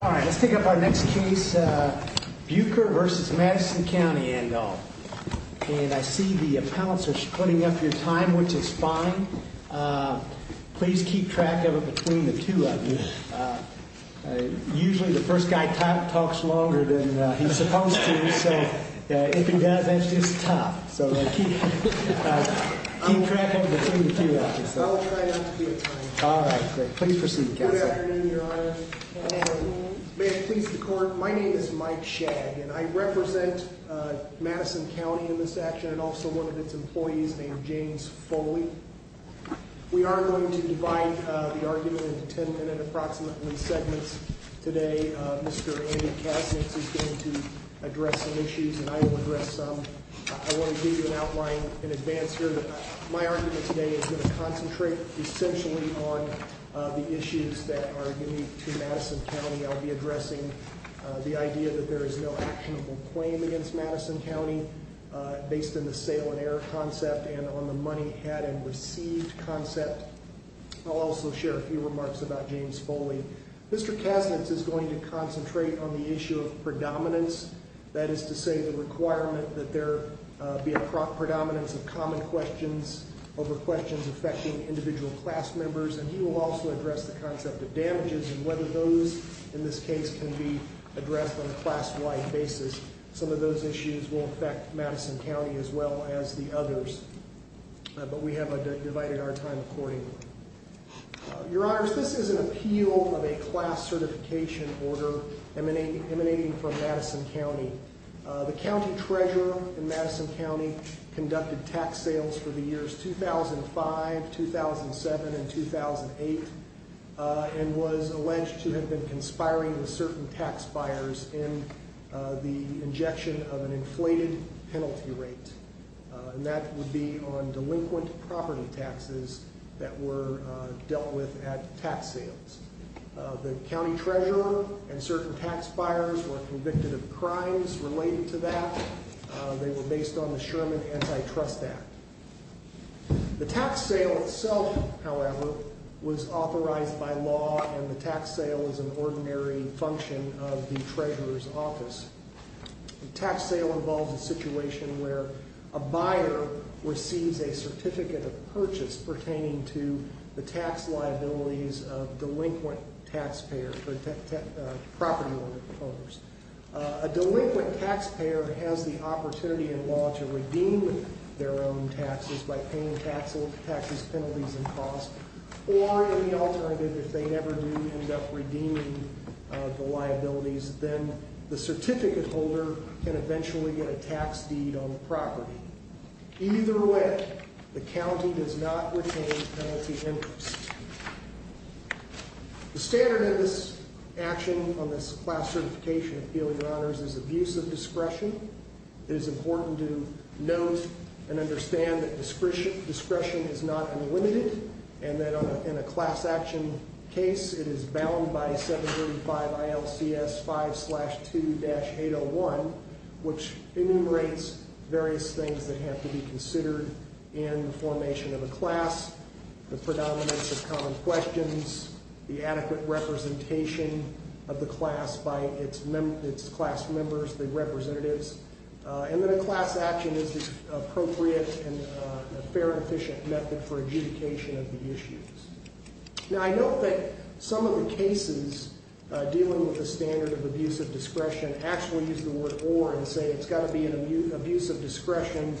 All right, let's take up our next case, Bueker v. Madison County, Andover. And I see the appellants are splitting up your time, which is fine. Please keep track of it between the two of you. Usually the first guy talks longer than he's supposed to, so if he does, that's just tough. So keep track of it between the two of you. I'll try not to be a time. All right, great. Please proceed, Counselor. Good afternoon, Your Honor. Good afternoon. May it please the Court, my name is Mike Shagg, and I represent Madison County in this action, and also one of its employees named James Foley. We are going to divide the argument into ten-minute, approximately, segments today. Mr. Andy Kasich is going to address some issues, and I will address some. I want to give you an outline in advance here. My argument today is going to concentrate essentially on the issues that are unique to Madison County. I'll be addressing the idea that there is no actionable claim against Madison County, based on the sale and error concept and on the money had and received concept. I'll also share a few remarks about James Foley. Mr. Kasich is going to concentrate on the issue of predominance, that is to say the requirement that there be a predominance of common questions over questions affecting individual class members, and he will also address the concept of damages and whether those, in this case, can be addressed on a class-wide basis. Some of those issues will affect Madison County as well as the others, but we have divided our time accordingly. Your Honors, this is an appeal of a class certification order emanating from Madison County. The county treasurer in Madison County conducted tax sales for the years 2005, 2007, and 2008 and was alleged to have been conspiring with certain tax buyers in the injection of an inflated penalty rate, and that would be on delinquent property taxes that were dealt with at tax sales. The county treasurer and certain tax buyers were convicted of crimes related to that. They were based on the Sherman Antitrust Act. The tax sale itself, however, was authorized by law, and the tax sale is an ordinary function of the treasurer's office. A tax sale involves a situation where a buyer receives a certificate of purchase pertaining to the tax liabilities of delinquent property owners. A delinquent taxpayer has the opportunity in law to redeem their own taxes by paying taxes, penalties, and costs, or in the alternative, if they never do end up redeeming the liabilities, then the certificate holder can eventually get a tax deed on the property. Either way, the county does not retain penalty interest. The standard of this action on this class certification appeal, Your Honors, is abuse of discretion. It is important to note and understand that discretion is not unlimited, and that in a class action case, it is bound by 735 ILCS 5-2-801, which enumerates various things that have to be considered in the formation of a class. The predominance of common questions, the adequate representation of the class by its class members, the representatives, and then a class action is the appropriate and fair and efficient method for adjudication of the issues. Now, I note that some of the cases dealing with the standard of abuse of discretion actually use the word or and say it's got to be an abuse of discretion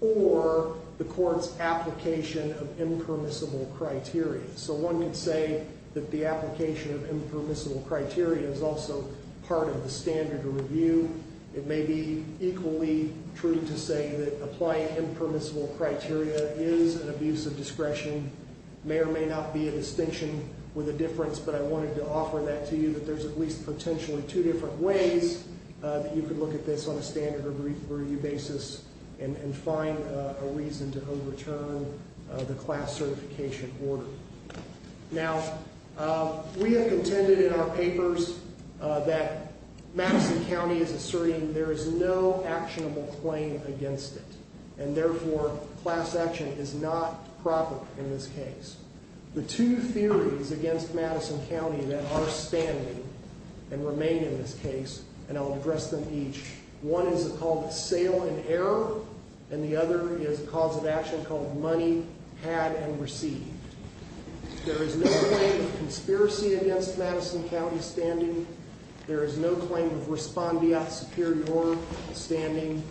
or the court's application of impermissible criteria. So one could say that the application of impermissible criteria is also part of the standard review. It may be equally true to say that applying impermissible criteria is an abuse of discretion. May or may not be a distinction with a difference, but I wanted to offer that to you, that there's at least potentially two different ways that you could look at this on a standard review basis and find a reason to overturn the class certification order. Now, we have contended in our papers that Madison County is asserting there is no actionable claim against it. And therefore, class action is not proper in this case. The two theories against Madison County that are standing and remain in this case, and I'll address them each. One is called sale and error, and the other is a cause of action called money had and received. There is no claim of conspiracy against Madison County standing. There is no claim of respondeat superior standing.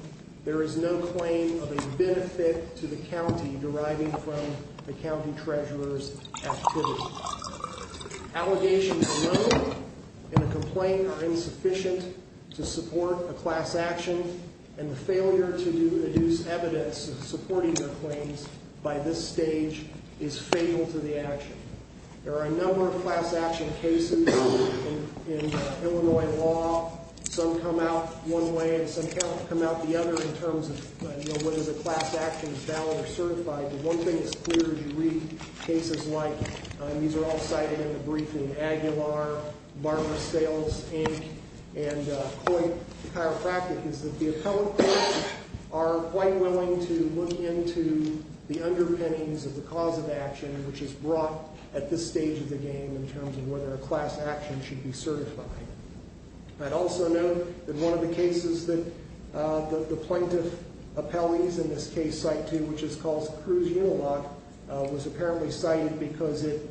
There is no claim of a benefit to the county deriving from the county treasurer's activity. Allegations alone in a complaint are insufficient to support a class action, and the failure to deduce evidence supporting the claims by this stage is fatal to the action. There are a number of class action cases in Illinois law. Some come out one way and some come out the other in terms of whether the class action is valid or certified. The one thing that's clear as you read cases like, and these are all cited in the briefing, Aguilar, Barber Sales, Inc., and Coit Chiropractic, is that the appellate courts are quite willing to look into the underpinnings of the cause of action, which is brought at this stage of the game in terms of whether a class action should be certified. I'd also note that one of the cases that the plaintiff appellees in this case cite to, which is called Cruz Unilog, was apparently cited because it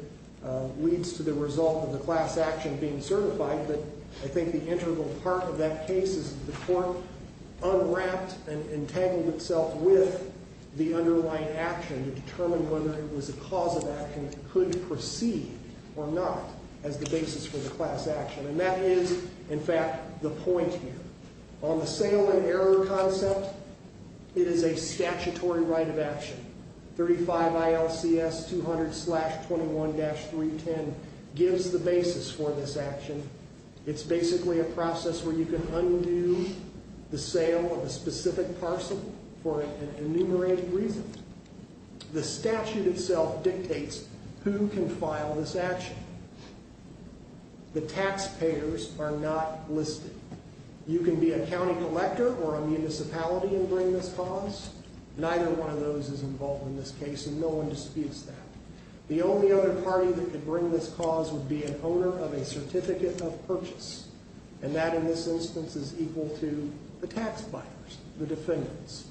leads to the result of the class action being certified, but I think the integral part of that case is that the court unwrapped and entangled itself with the underlying action to determine whether it was a cause of action that could proceed or not as the basis for the class action, and that is, in fact, the point here. On the sale and error concept, it is a statutory right of action. 35 ILCS 200-21-310 gives the basis for this action. It's basically a process where you can undo the sale of a specific parcel for an enumerated reason. The statute itself dictates who can file this action. The taxpayers are not listed. You can be a county collector or a municipality and bring this cause. Neither one of those is involved in this case, and no one disputes that. The only other party that could bring this cause would be an owner of a certificate of purchase, and that in this instance is equal to the tax buyers, the defendants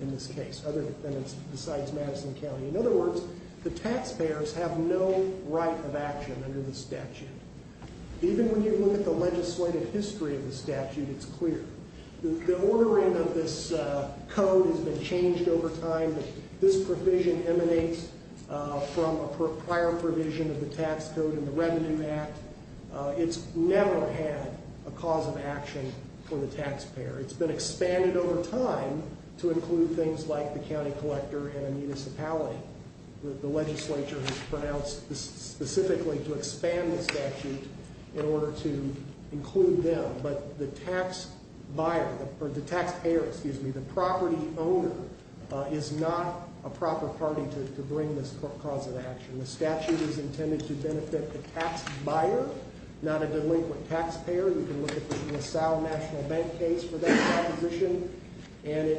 in this case, other defendants besides Madison County. In other words, the taxpayers have no right of action under the statute. Even when you look at the legislative history of the statute, it's clear. The ordering of this code has been changed over time. This provision emanates from a prior provision of the tax code in the Revenue Act. It's never had a cause of action for the taxpayer. It's been expanded over time to include things like the county collector and a municipality. The legislature has pronounced specifically to expand the statute in order to include them. But the taxpayer, the property owner, is not a proper party to bring this cause of action. The statute is intended to benefit the tax buyer, not a delinquent taxpayer. We can look at the LaSalle National Bank case for that proposition, and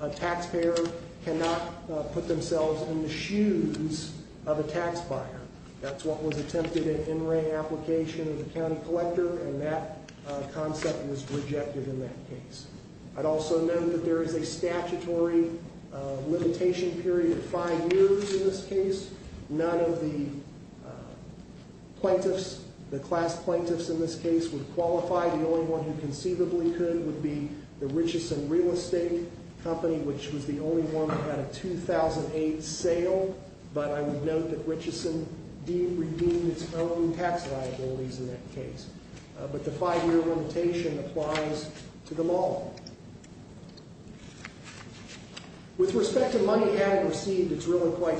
a taxpayer cannot put themselves in the shoes of a tax buyer. That's what was attempted in in-ring application of the county collector, and that concept was rejected in that case. I'd also note that there is a statutory limitation period of five years in this case. None of the plaintiffs, the class plaintiffs in this case, would qualify. The only one who conceivably could would be the Richeson Real Estate Company, which was the only one that had a 2008 sale. But I would note that Richeson redeemed its own tax liabilities in that case. But the five-year limitation applies to them all. With respect to money added or received, it's really quite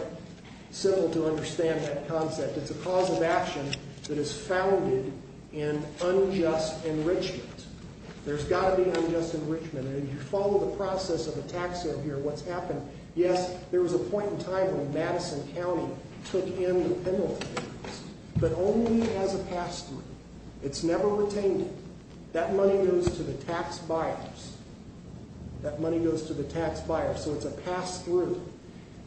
simple to understand that concept. It's a cause of action that is founded in unjust enrichment. There's got to be unjust enrichment, and if you follow the process of the tax here, what's happened, yes, there was a point in time when Madison County took in the penalty, but only as a pass-through. It's never retained it. That money goes to the tax buyers. That money goes to the tax buyers, so it's a pass-through.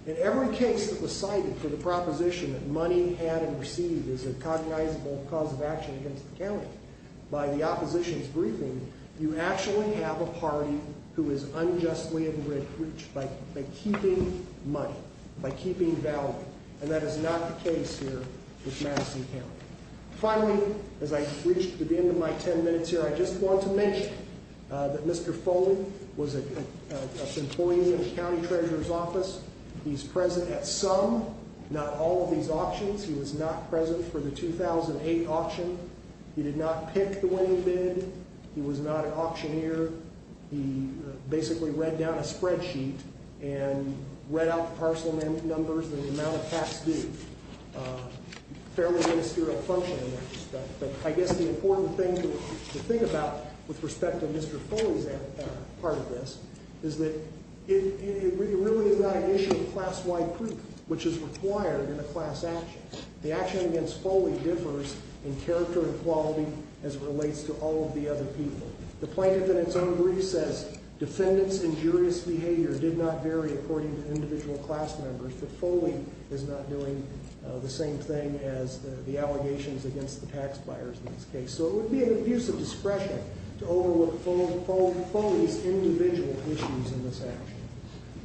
In every case that was cited for the proposition that money had and received is a cognizable cause of action against the county, by the opposition's briefing, you actually have a party who is unjustly enriched by keeping money, by keeping value. And that is not the case here with Madison County. Finally, as I reach the end of my ten minutes here, I just want to mention that Mr. Foley was an employee in the county treasurer's office. He's present at some, not all, of these auctions. He was not present for the 2008 auction. He did not pick the winning bid. He was not an auctioneer. He basically read down a spreadsheet and read out the parcel numbers and the amount of tax due. Fairly ministerial function in that respect. But I guess the important thing to think about with respect to Mr. Foley's part of this is that it really is not an issue of class-wide proof, which is required in a class action. The action against Foley differs in character and quality as it relates to all of the other people. The plaintiff in its own brief says defendants' injurious behavior did not vary according to individual class members, but Foley is not doing the same thing as the allegations against the tax buyers in this case. So it would be an abuse of discretion to overlook Foley's individual issues in this action.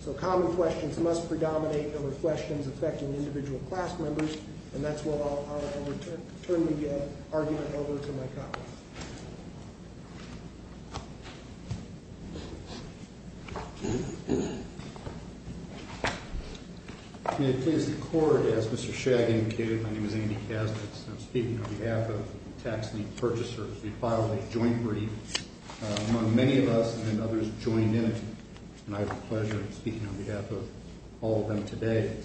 So common questions must predominate over questions affecting individual class members, and that's what I'll turn the argument over to my colleague. May it please the Court, as Mr. Shagg indicated, my name is Andy Kasnitz, and I'm speaking on behalf of tax-linked purchasers. We filed a joint brief among many of us, and then others joined in, and I have the pleasure of speaking on behalf of all of them today.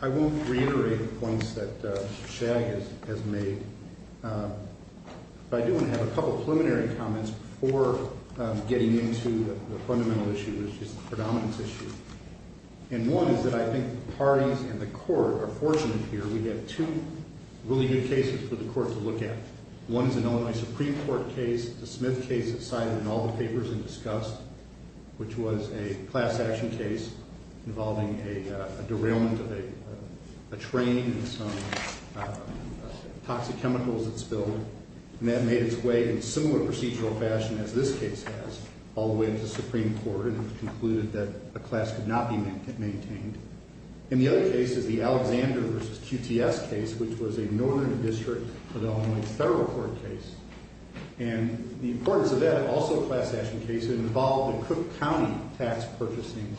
I won't reiterate the points that Shagg has made, but I do want to have a couple of preliminary comments before getting into the fundamental issue, which is the predominance issue. And one is that I think the parties and the Court are fortunate here. We have two really good cases for the Court to look at. One is an Illinois Supreme Court case, the Smith case that's cited in all the papers and discussed, which was a class action case involving a derailment of a train and some toxic chemicals that spilled. And that made its way in a similar procedural fashion as this case has, all the way into Supreme Court, and it was concluded that a class could not be maintained. And the other case is the Alexander v. QTS case, which was a Northern District of Illinois Federal Court case. And the importance of that, also a class action case, involved a Cook County tax purchasing.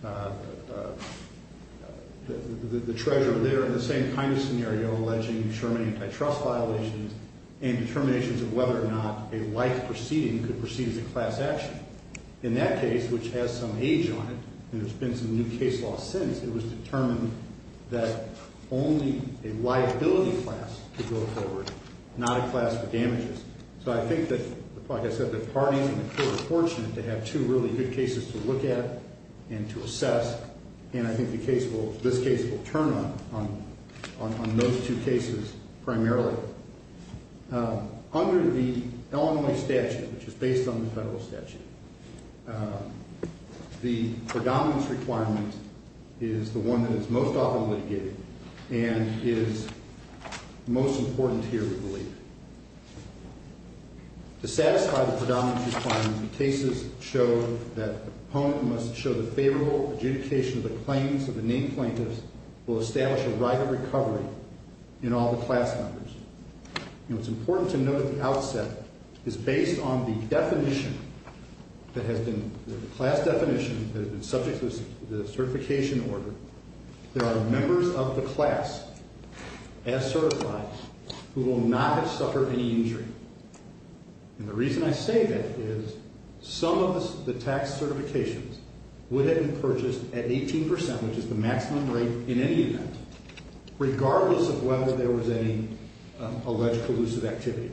The treasurer there in the same kind of scenario, alleging Sherman antitrust violations and determinations of whether or not a like proceeding could proceed as a class action. In that case, which has some age on it, and there's been some new case law since, it was determined that only a liability class could go forward, not a class for damages. So I think that, like I said, the parties and the Court are fortunate to have two really good cases to look at and to assess, and I think this case will turn on those two cases primarily. Under the Illinois statute, which is based on the federal statute, the predominance requirement is the one that is most often litigated and is most important here, we believe. To satisfy the predominance requirement, the cases show that the proponent must show the favorable adjudication of the claims that the named plaintiffs will establish a right of recovery in all the class members. And it's important to note at the outset, it's based on the definition that has been, the class definition that has been subject to the certification order. There are members of the class, as certified, who will not have suffered any injury. And the reason I say that is some of the tax certifications would have been purchased at 18%, which is the maximum rate in any event, regardless of whether there was any alleged collusive activity.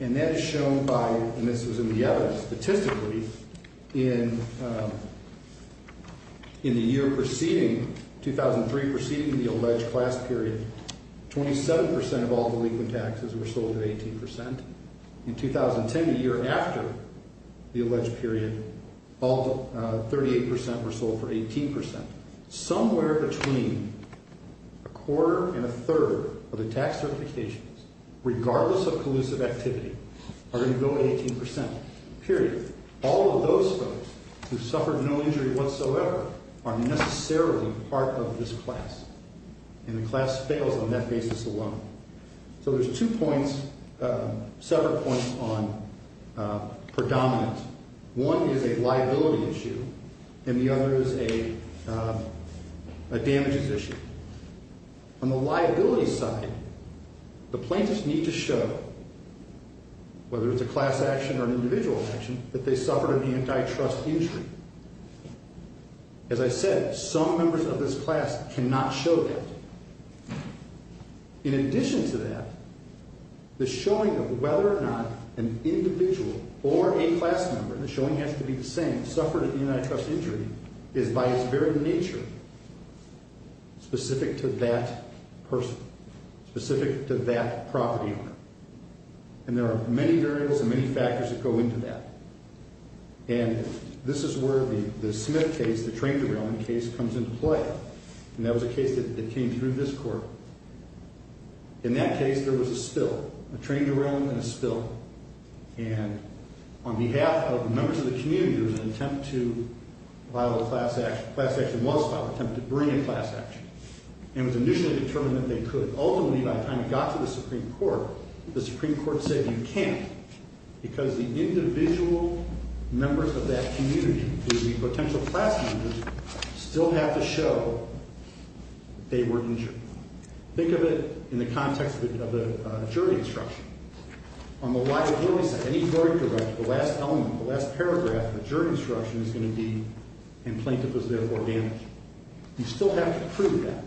And that is shown by, and this was in the evidence, statistically, in the year preceding, 2003 preceding the alleged class period, 27% of all the legal taxes were sold at 18%. In 2010, the year after the alleged period, 38% were sold for 18%. Somewhere between a quarter and a third of the tax certifications, regardless of collusive activity, are going to go to 18%, period. All of those folks who suffered no injury whatsoever are necessarily part of this class. And the class fails on that basis alone. So there's two points, several points on predominance. One is a liability issue, and the other is a damages issue. On the liability side, the plaintiffs need to show, whether it's a class action or an individual action, that they suffered an antitrust injury. As I said, some members of this class cannot show that. In addition to that, the showing of whether or not an individual or a class member, the showing has to be the same, suffered an antitrust injury is by its very nature specific to that person, specific to that property owner. And there are many variables and many factors that go into that. And this is where the Smith case, the train derailing case, comes into play. And that was a case that came through this court. In that case, there was a spill, a train derailing and a spill. And on behalf of members of the community, there was an attempt to file a class action. The class action was filed, an attempt to bring a class action. And it was initially determined that they could. Ultimately, by the time it got to the Supreme Court, the Supreme Court said you can't, because the individual members of that community, the potential class members, still have to show they were injured. Think of it in the context of a jury instruction. On the right, it always says, any verdict you write, the last element, the last paragraph of a jury instruction is going to be, and plaintiff was therefore damaged. You still have to prove that,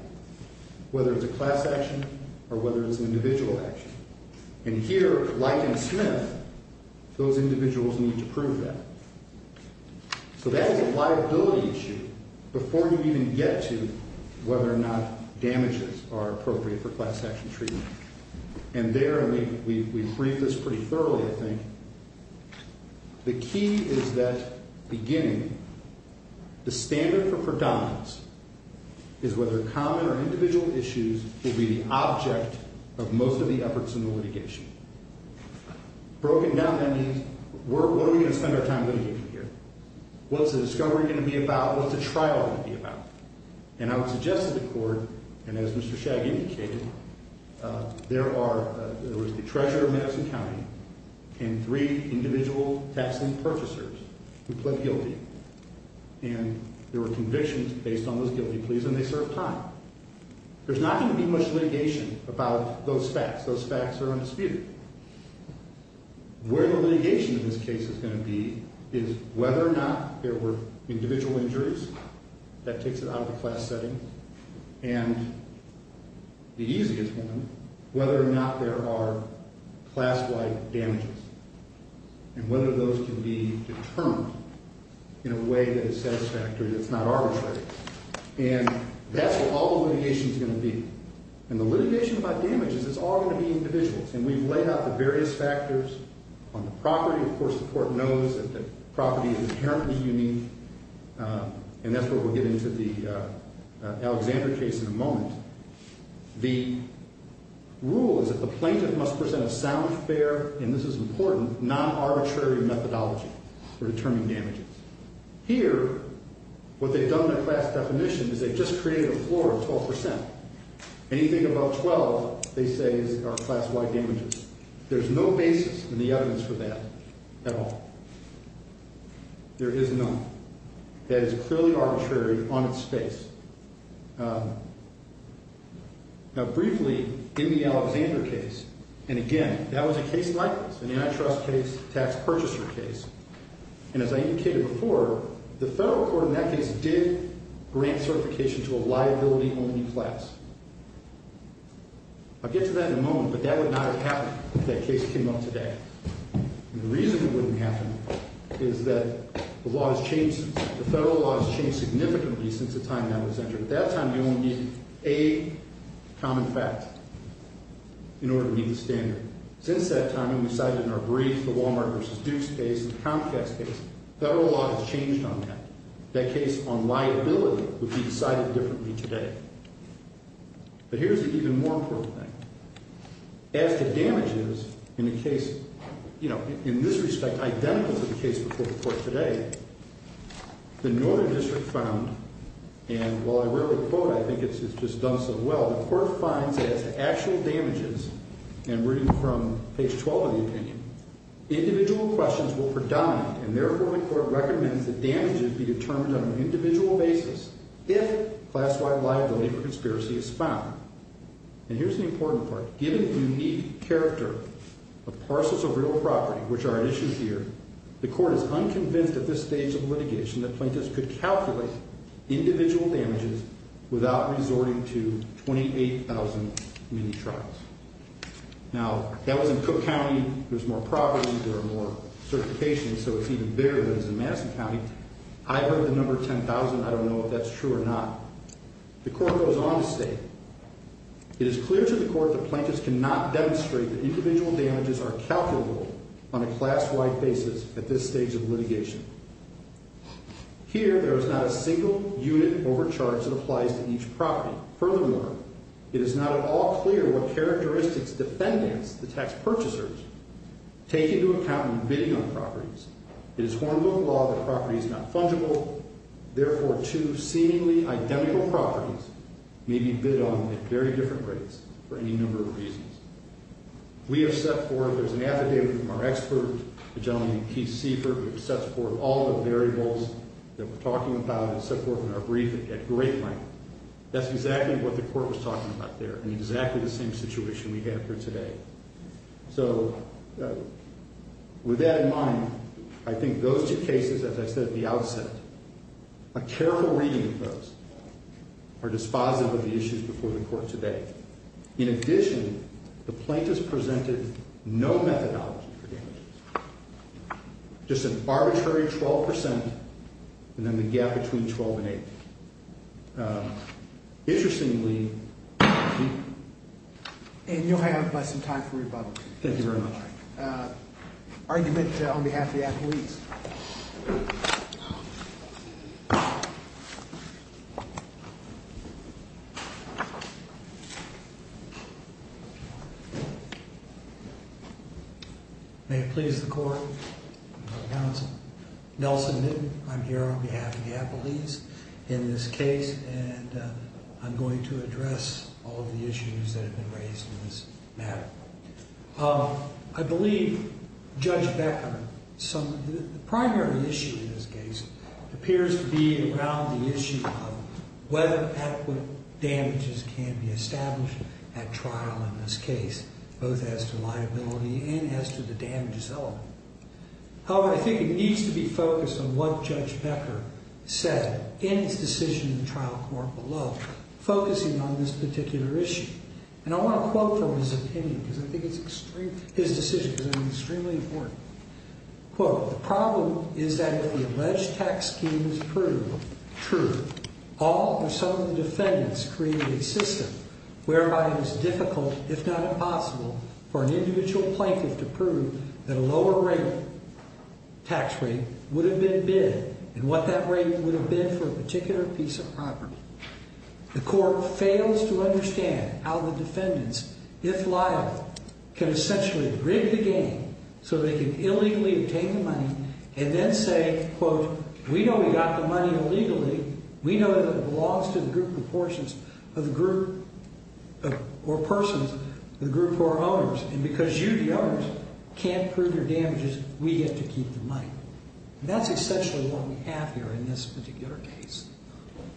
whether it's a class action or whether it's an individual action. And here, like in Smith, those individuals need to prove that. So that is a liability issue before you even get to whether or not damages are appropriate for class action treatment. And there, and we've read this pretty thoroughly, I think, the key is that beginning, the standard for predominance is whether common or individual issues will be the object of most of the efforts in the litigation. Broken down, that means, what are we going to spend our time litigating here? What's the discovery going to be about? What's the trial going to be about? And I would suggest to the court, and as Mr. Shagg indicated, there are, there was the treasurer of Madison County and three individual tax lien purchasers who pled guilty. And there were convictions based on those guilty pleas, and they served time. There's not going to be much litigation about those facts. Those facts are undisputed. Where the litigation in this case is going to be is whether or not there were individual injuries. That takes it out of the class setting. And the easiest one, whether or not there are class-wide damages, and whether those can be determined in a way that is satisfactory, that's not arbitrary. And that's what all the litigation is going to be. And the litigation about damages, it's all going to be individuals. And we've laid out the various factors on the property. Of course, the court knows that the property is inherently unique, and that's where we'll get into the Alexander case in a moment. The rule is that the plaintiff must present a sound, fair, and this is important, non-arbitrary methodology for determining damages. Here, what they've done in the class definition is they've just created a floor of 12 percent. Anything above 12, they say, are class-wide damages. There's no basis in the evidence for that at all. There is none. That is clearly arbitrary on its face. Now, briefly, in the Alexander case, and again, that was a case like this, an antitrust case, tax purchaser case. And as I indicated before, the federal court in that case did grant certification to a liability-only class. I'll get to that in a moment, but that would not have happened if that case came up today. And the reason it wouldn't happen is that the law has changed. The federal law has changed significantly since the time that was entered. At that time, you only need a common fact in order to meet the standard. Since that time, and we cited in our brief the Walmart v. Dukes case and the Comcast case, federal law has changed on that. That case on liability would be decided differently today. But here's the even more important thing. As to damages in the case, you know, in this respect, identical to the case before the court today, the Northern District found, and while I rarely quote, I think it's just done so well, the court finds that as to actual damages, and reading from page 12 of the opinion, individual questions will predominate, and therefore the court recommends that damages be determined on an individual basis if class-wide liability for conspiracy is found. And here's the important part. Given the unique character of parcels of real property, which are at issue here, the court is unconvinced at this stage of litigation that plaintiffs could calculate individual damages without resorting to 28,000 mini-trials. Now, that was in Cook County. There's more property. There are more certifications, so it's even bigger than it is in Madison County. I heard the number 10,000. I don't know if that's true or not. The court goes on to state, it is clear to the court that plaintiffs cannot demonstrate that individual damages are calculable on a class-wide basis at this stage of litigation. Here, there is not a single unit overcharge that applies to each property. Furthermore, it is not at all clear what characteristics defendants, the tax purchasers, take into account when bidding on properties. It is Hornbook law that property is not fungible. Therefore, two seemingly identical properties may be bid on at very different rates for any number of reasons. We have set forth, there's an affidavit from our expert, a gentleman named Keith Seifert, which sets forth all the variables that we're talking about and set forth in our brief at great length. That's exactly what the court was talking about there in exactly the same situation we have here today. So, with that in mind, I think those two cases, as I said at the outset, a careful reading of those are dispositive of the issues before the court today. In addition, the plaintiffs presented no methodology for damages. Just an arbitrary 12% and then the gap between 12 and 8. Interestingly... And you'll have some time for rebuttal. Thank you very much. Argument on behalf of the appellees. May it please the court. Counsel. Nelson Newton. I'm here on behalf of the appellees in this case. And I'm going to address all of the issues that have been raised in this matter. I believe Judge Beckerman, the primary issue in this case, appears to be around the issue of whether adequate damages can be established at trial in this case, both as to liability and as to the damage itself. However, I think it needs to be focused on what Judge Becker said in his decision in the trial court below, focusing on this particular issue. And I want to quote from his opinion because I think it's extremely... His decision is extremely important. Quote, for an individual plaintiff to prove that a lower rate, tax rate, would have been bid and what that rate would have been for a particular piece of property. The court fails to understand how the defendants, if liable, can essentially rig the game so they can illegally obtain the money and then say, quote, And because you, the owners, can't prove your damages, we get to keep the money. And that's essentially what we have here in this particular case.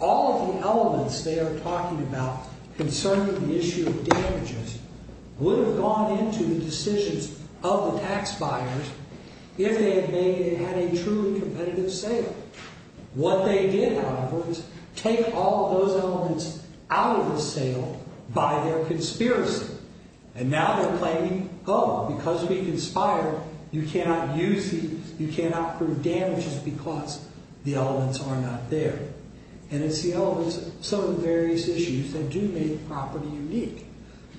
All of the elements they are talking about concerning the issue of damages would have gone into the decisions of the tax buyers if they had made... had a truly competitive sale. What they did, however, is take all of those elements out of the sale by their conspiracy. And now they're claiming, oh, because we conspire, you cannot use these, you cannot prove damages because the elements are not there. And it's the elements of some of the various issues that do make the property unique.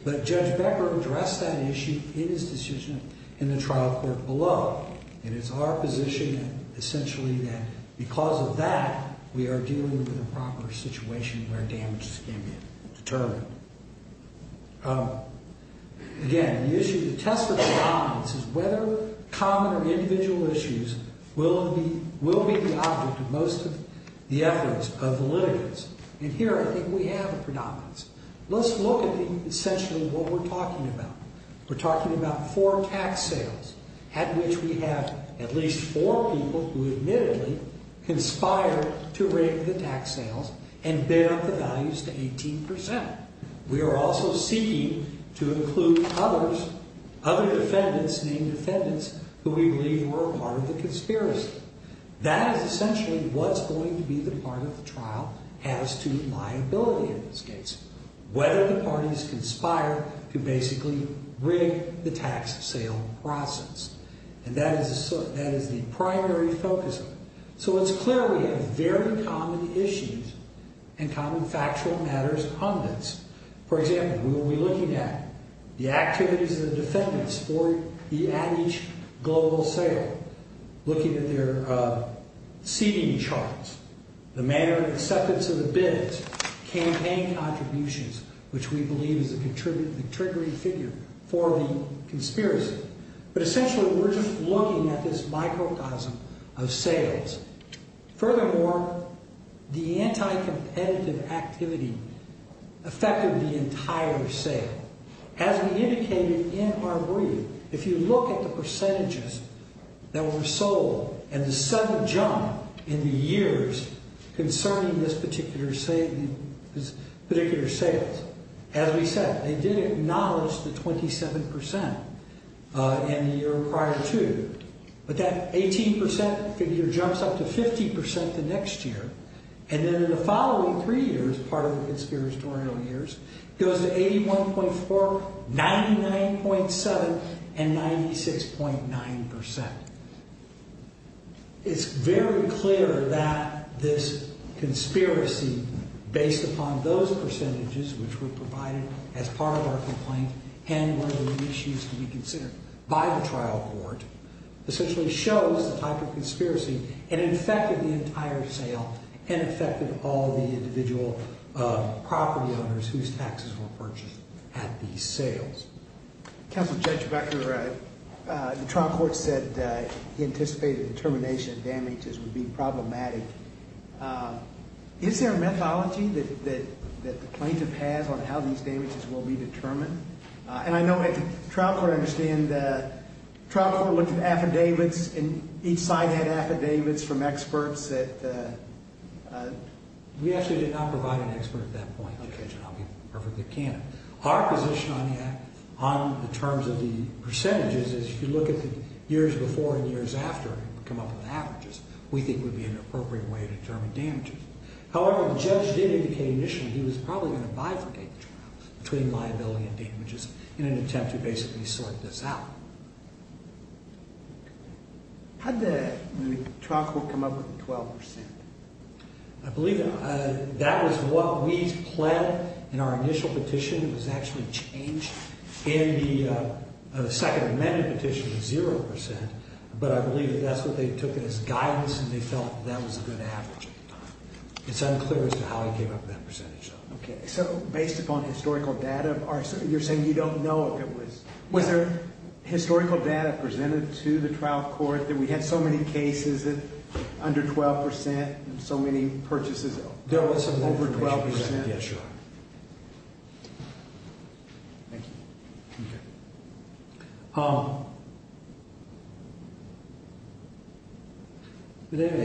But Judge Becker addressed that issue in his decision in the trial court below. And it's our position, essentially, that because of that, we are dealing with a proper situation where damages can be determined. Again, the issue, the test of predominance is whether common or individual issues will be the object of most of the efforts of the litigants. And here, I think, we have a predominance. Let's look at, essentially, what we're talking about. We're talking about four tax sales at which we have at least four people who admittedly conspired to rig the tax sales and bid up the values to 18%. We are also seeking to include others, other defendants, named defendants, who we believe were a part of the conspiracy. That is essentially what's going to be the part of the trial as to liability in this case. Whether the parties conspired to basically rig the tax sale process. And that is the primary focus of it. So it's clear we have very common issues and common factual matters on this. For example, we will be looking at the activities of the defendants at each global sale, looking at their seating charts, the manner of acceptance of the bids, campaign contributions, which we believe is the triggering figure for the conspiracy. But essentially, we're just looking at this microcosm of sales. Furthermore, the anti-competitive activity affected the entire sale. As we indicated in our brief, if you look at the percentages that were sold and the sudden jump in the years concerning this particular sale, as we said, they did acknowledge the 27% in the year prior to. But that 18% figure jumps up to 50% the next year. And then in the following three years, part of the conspiratorial years, goes to 81.4%, 99.7%, and 96.9%. It's very clear that this conspiracy, based upon those percentages, which were provided as part of our complaint and were the issues to be considered by the trial court, essentially shows the type of conspiracy and infected the entire sale and affected all the individual property owners whose taxes were purchased at these sales. Counsel, Judge Becker, the trial court said they anticipated the termination of damages would be problematic. Is there a methodology that the plaintiff has on how these damages will be determined? And I know the trial court looked at affidavits, and each side had affidavits from experts that... We actually did not provide an expert at that point, Judge, and I'll be perfectly candid. Our position on the terms of the percentages is if you look at the years before and years after and come up with averages, we think it would be an appropriate way to determine damages. However, the judge did indicate initially he was probably going to bifurcate the trials between liability and damages in an attempt to basically sort this out. How did the trial court come up with the 12%? I believe that was what we planned in our initial petition. It was actually changed in the Second Amendment petition to 0%, but I believe that's what they took as guidance, and they felt that was a good average at the time. It's unclear as to how he came up with that percentage, though. Okay, so based upon historical data, you're saying you don't know if it was... Was there historical data presented to the trial court that we had so many cases under 12% and so many purchases over 12%? Yes, Your Honor. Thank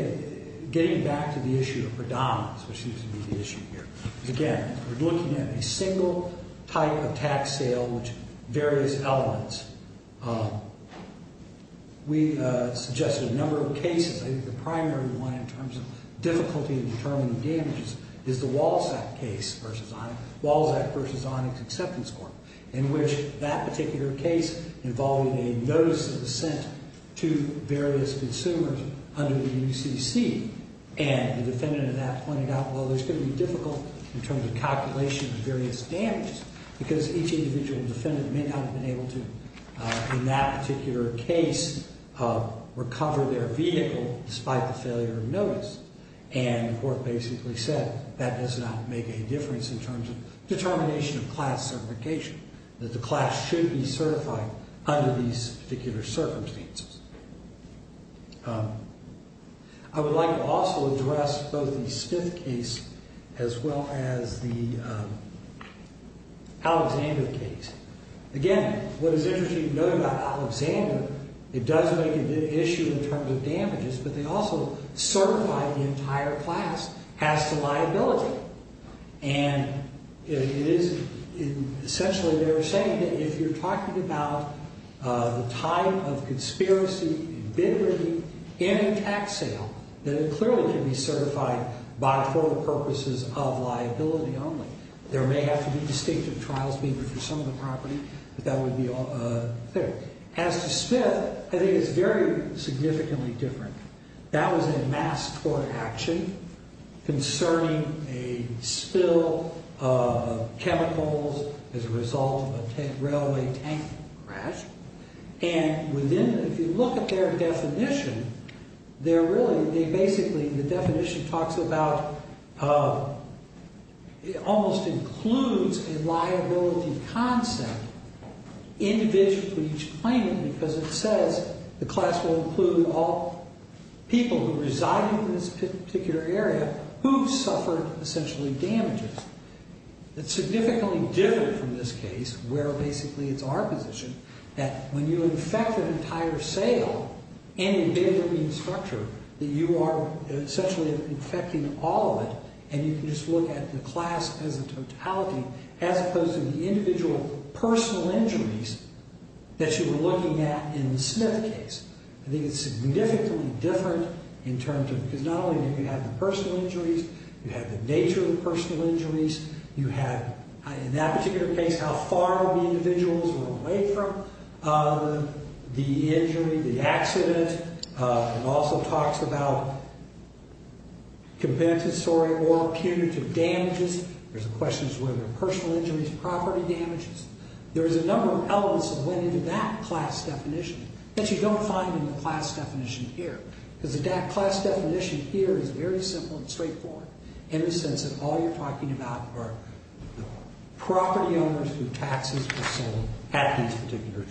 you. Getting back to the issue of predominance, which used to be the issue here, again, we're looking at a single type of tax sale with various elements. We suggested a number of cases. I think the primary one, in terms of difficulty in determining damages, is the Walzak case versus Onyx Acceptance Court, in which that particular case involved a notice of assent to various consumers under the UCC, and the defendant in that pointed out, well, there's going to be difficulty in terms of calculation of various damages because each individual defendant may not have been able to, in that particular case, recover their vehicle despite the failure of notice, and the court basically said that does not make any difference in terms of determination of class certification, that the class should be certified under these particular circumstances. I would like to also address both the Smith case as well as the Alexander case. Again, what is interesting to note about Alexander, it does make it an issue in terms of damages, but they also certify the entire class as to liability, and it is essentially they're saying that if you're talking about the type of conspiracy, invigorating, in a tax sale, then it clearly can be certified by formal purposes of liability only. There may have to be distinctive trials, maybe for some of the property, but that would be all there. As to Smith, I think it's very significantly different. That was a mass court action concerning a spill of chemicals as a result of a railway tank crash, and within, if you look at their definition, they're really, they basically, the definition talks about, it almost includes a liability concept individually for each claimant because it says the class will include all people who reside in this particular area who've suffered essentially damages. It's significantly different from this case where basically it's our position that when you infect an entire sale and invigorate the structure, that you are essentially infecting all of it and you can just look at the class as a totality as opposed to the individual personal injuries that you were looking at in the Smith case. I think it's significantly different in terms of, because not only do you have the personal injuries, you have the nature of the personal injuries, you have, in that particular case, how far the individuals were away from the injury, the accident, and also talks about compensatory or punitive damages. There's a question as to whether personal injuries, property damages. There is a number of elements that went into that class definition that you don't find in the class definition here because the class definition here is very simple and straightforward in the sense that all you're talking about are the property owners who taxes the sale at these particular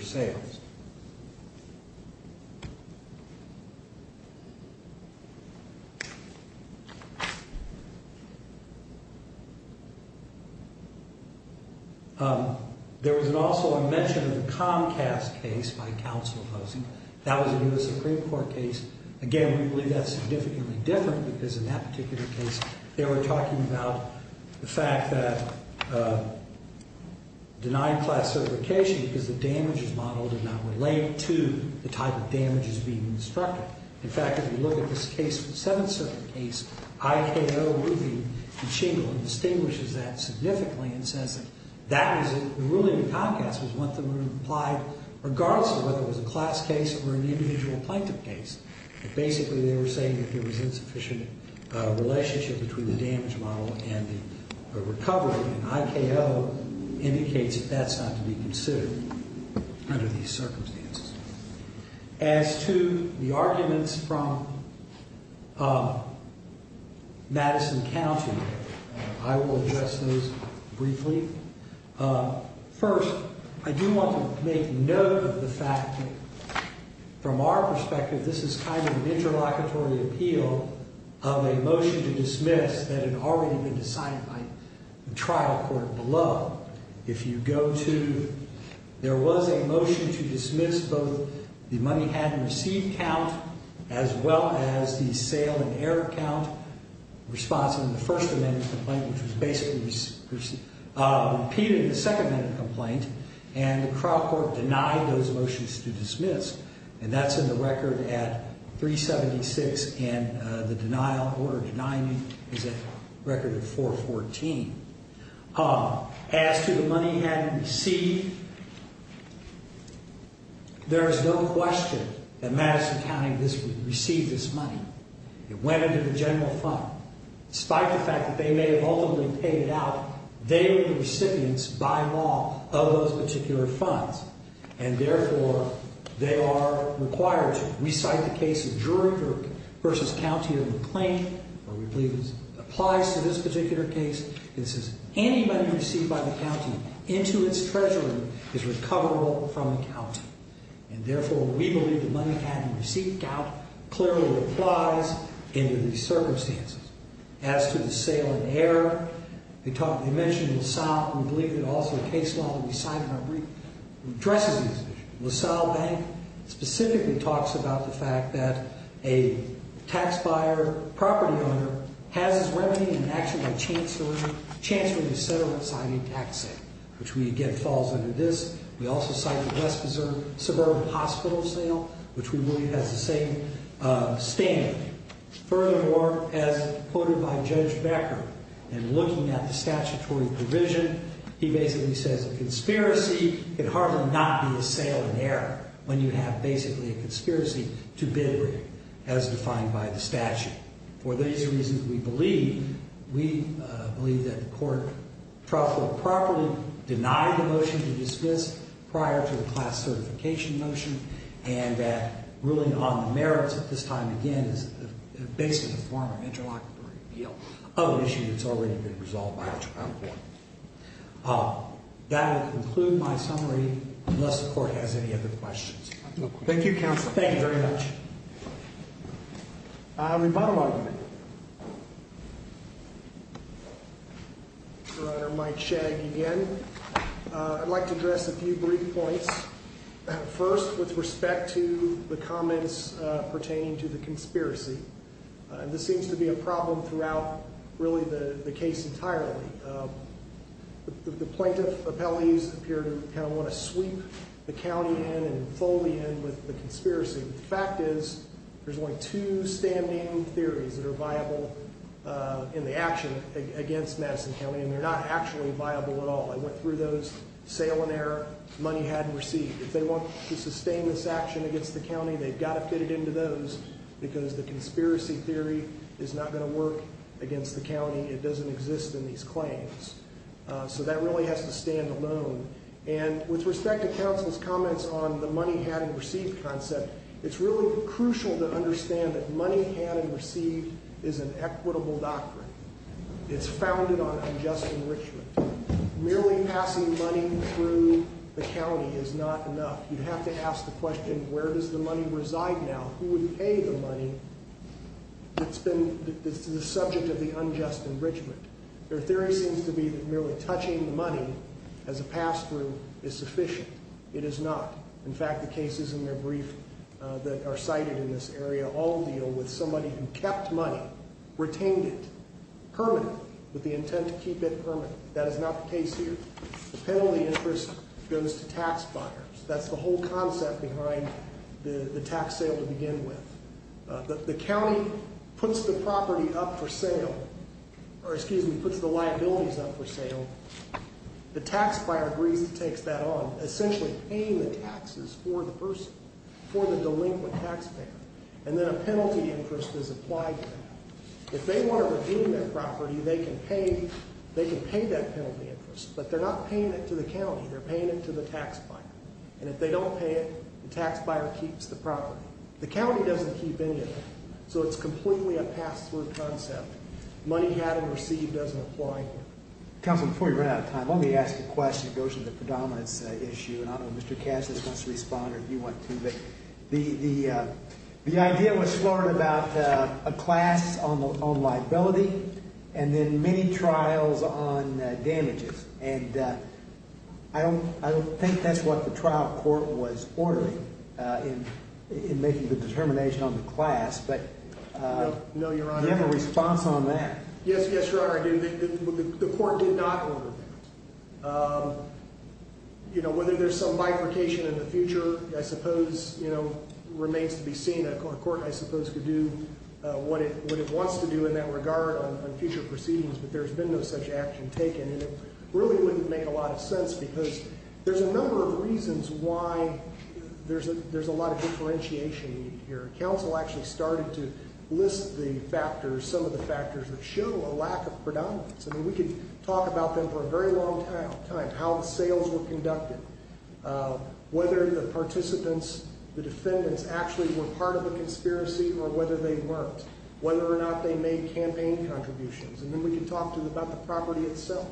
sales. There was also a mention of the Comcast case by counsel opposing. That was a U.S. Supreme Court case. Again, we believe that's significantly different because in that particular case, they were talking about the fact that denying class certification because the damages model did not relate to the type of damages being instructed. In fact, if you look at this case, the Seventh Circuit case, I.K.O. Ruthie and Shingle distinguishes that significantly in the sense that the ruling of Comcast was one that would have applied regardless of whether it was a class case or an individual plaintiff case. Basically, they were saying that there was insufficient relationship between the damage model and the recovery, and I.K.O. indicates that that's not to be considered under these circumstances. As to the arguments from Madison County, I will address those briefly. First, I do want to make note of the fact that from our perspective, this is kind of an interlocutory appeal of a motion to dismiss that had already been decided by the trial court below. If you go to... There was a motion to dismiss both the money-hadn't-received count as well as the sale-and-error count response in the First Amendment complaint, which was basically repeating the Second Amendment complaint, and the trial court denied those motions to dismiss, and that's in the record at 376, and the order denying it is a record at 414. As to the money-hadn't-received, there is no question that Madison County received this money. It went into the general fund. Despite the fact that they may have ultimately paid it out, they were the recipients by law of those particular funds, and, therefore, they are required to recite the case of jury versus county in the claim, or we believe it applies to this particular case. It says, any money received by the county into its treasury is recoverable from the county, and, therefore, we believe the money-hadn't-received count clearly applies in these circumstances. As to the sale-and-error, they mentioned in the south, and we believe that also a case law that we signed in our brief addresses these issues. LaSalle Bank specifically talks about the fact that a tax-buyer property owner has his remedy in action by chancellery, etc., when signing a tax sale, which, again, falls under this. We also cite the West Desert Suburban Hospital sale, which we believe has the same standard. Furthermore, as quoted by Judge Becker, in looking at the statutory provision, he basically says a conspiracy can hardly not be a sale-and-error when you have, basically, a conspiracy to bid-rate, as defined by the statute. For these reasons, we believe that the court will properly deny the motion to dismiss prior to the class certification motion, and that ruling on the merits at this time, again, is basically a form of interlocutory appeal of an issue that's already been resolved by a trial court. That will conclude my summary, unless the court has any other questions. Thank you, Counsel. Thank you very much. Rebuttal argument. Your Honor, Mike Shagg again. I'd like to address a few brief points. First, with respect to the comments pertaining to the conspiracy. This seems to be a problem throughout, really, the case entirely. The plaintiff appellees appear to kind of want to sweep the county in and fold in with the conspiracy. The fact is, there's only two standing theories that are viable in the action against Madison County, and they're not actually viable at all. I went through those, sale-and-error, money hadn't received. If they want to sustain this action against the county, they've got to fit it into those because the conspiracy theory is not going to work against the county. It doesn't exist in these claims. So that really has to stand alone. And with respect to Counsel's comments on the money-had-and-received concept, it's really crucial to understand that money-had-and-received is an equitable doctrine. It's founded on unjust enrichment. Merely passing money through the county is not enough. You have to ask the question, where does the money reside now? Who would pay the money that's been the subject of the unjust enrichment? Their theory seems to be that merely touching money as a pass-through is sufficient. It is not. In fact, the cases in their brief that are cited in this area all deal with somebody who kept money, retained it permanently with the intent to keep it permanently. That is not the case here. The penalty interest goes to tax buyers. That's the whole concept behind the tax sale to begin with. The county puts the property up for sale, or excuse me, puts the liabilities up for sale. The tax buyer agrees and takes that on, essentially paying the taxes for the person, for the delinquent taxpayer. And then a penalty interest is applied to that. If they want to redeem their property, they can pay that penalty interest, but they're not paying it to the county. They're paying it to the tax buyer. And if they don't pay it, the tax buyer keeps the property. The county doesn't keep any of it, so it's completely a pass-through concept. Money had and received doesn't apply here. Counsel, before we run out of time, let me ask a question. It goes to the predominance issue, and I don't know if Mr. Cassius wants to respond or if you want to, but the idea was floated about a class on liability and then many trials on damages. I don't think that's what the trial court was ordering in making the determination on the class, but do you have a response on that? Yes, Your Honor, I do. The court did not order that. Whether there's some bifurcation in the future, I suppose remains to be seen. A court, I suppose, could do what it wants to do in that regard on future proceedings, but there's been no such action taken and it really wouldn't make a lot of sense because there's a number of reasons why there's a lot of differentiation here. Counsel actually started to list the factors, some of the factors that show a lack of predominance. We could talk about them for a very long time, how the sales were conducted, whether the participants, the defendants, actually were part of the conspiracy or whether they weren't, whether or not they made campaign contributions, and then we could talk about the property itself.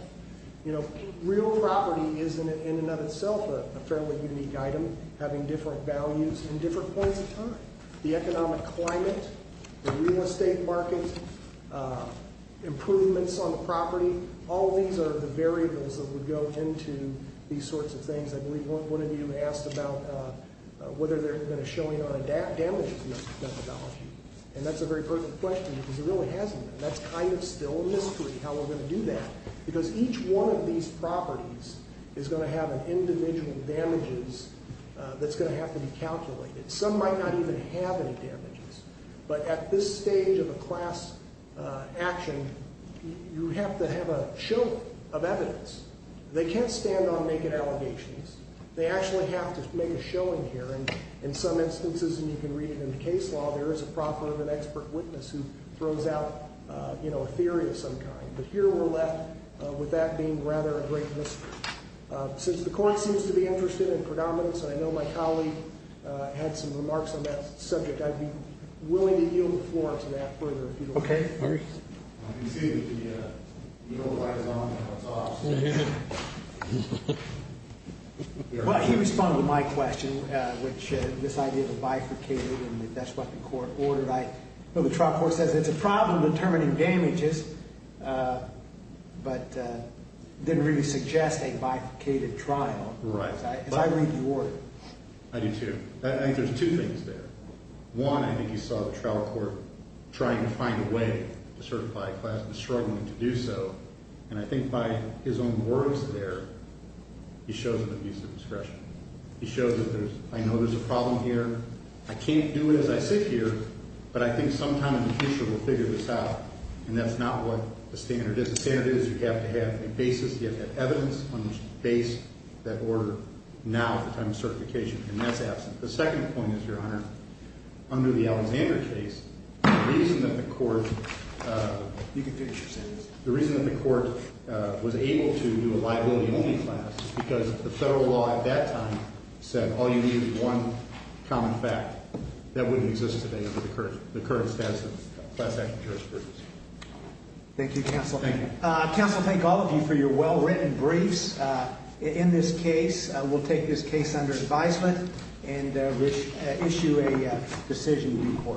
You know, real property is in and of itself a fairly unique item, having different values in different points of time. The economic climate, the real estate market, improvements on the property, all these are the variables that would go into these sorts of things. I believe one of you asked about whether there had been a showing on damages methodology, and that's a very perfect question because there really hasn't been. That's kind of still a mystery, how we're going to do that, because each one of these properties is going to have an individual damages that's going to have to be calculated. Some might not even have any damages, but at this stage of a class action, you have to have a show of evidence. They can't stand on naked allegations. They actually have to make a showing here, and in some instances, and you can read it in the case law, there is a property of an expert witness who throws out a theory of some kind. But here we're left with that being rather a great mystery. Since the court seems to be interested in predominance, and I know my colleague had some remarks on that subject, I'd be willing to yield the floor to that further if you don't mind. Okay. I can see that the yellow light is on now. It's off. Well, he responded to my question, which this idea of a bifurcated, and that's what the court ordered. The trial court says it's a problem determining damages, but didn't really suggest a bifurcated trial. Right. Because I read the order. I do, too. I think there's two things there. One, I think you saw the trial court trying to find a way to certify a class but struggling to do so, and I think by his own words there, he shows an abuse of discretion. He shows that I know there's a problem here, I can't do it as I sit here, but I think sometime in the future we'll figure this out, and that's not what the standard is. The standard is you have to have a basis, you have to have evidence on the basis of that order now at the time of certification, and that's absent. The second point is, Your Honor, under the Alexander case, the reason that the court was able to do a liability-only class is because the federal law at that time said all you needed was one common fact. That wouldn't exist today under the current status of class action jurisprudence. Thank you, Counsel. Thank you. Counsel, thank all of you for your well-written briefs. In this case, we'll take this case under advisement and issue a decision in court.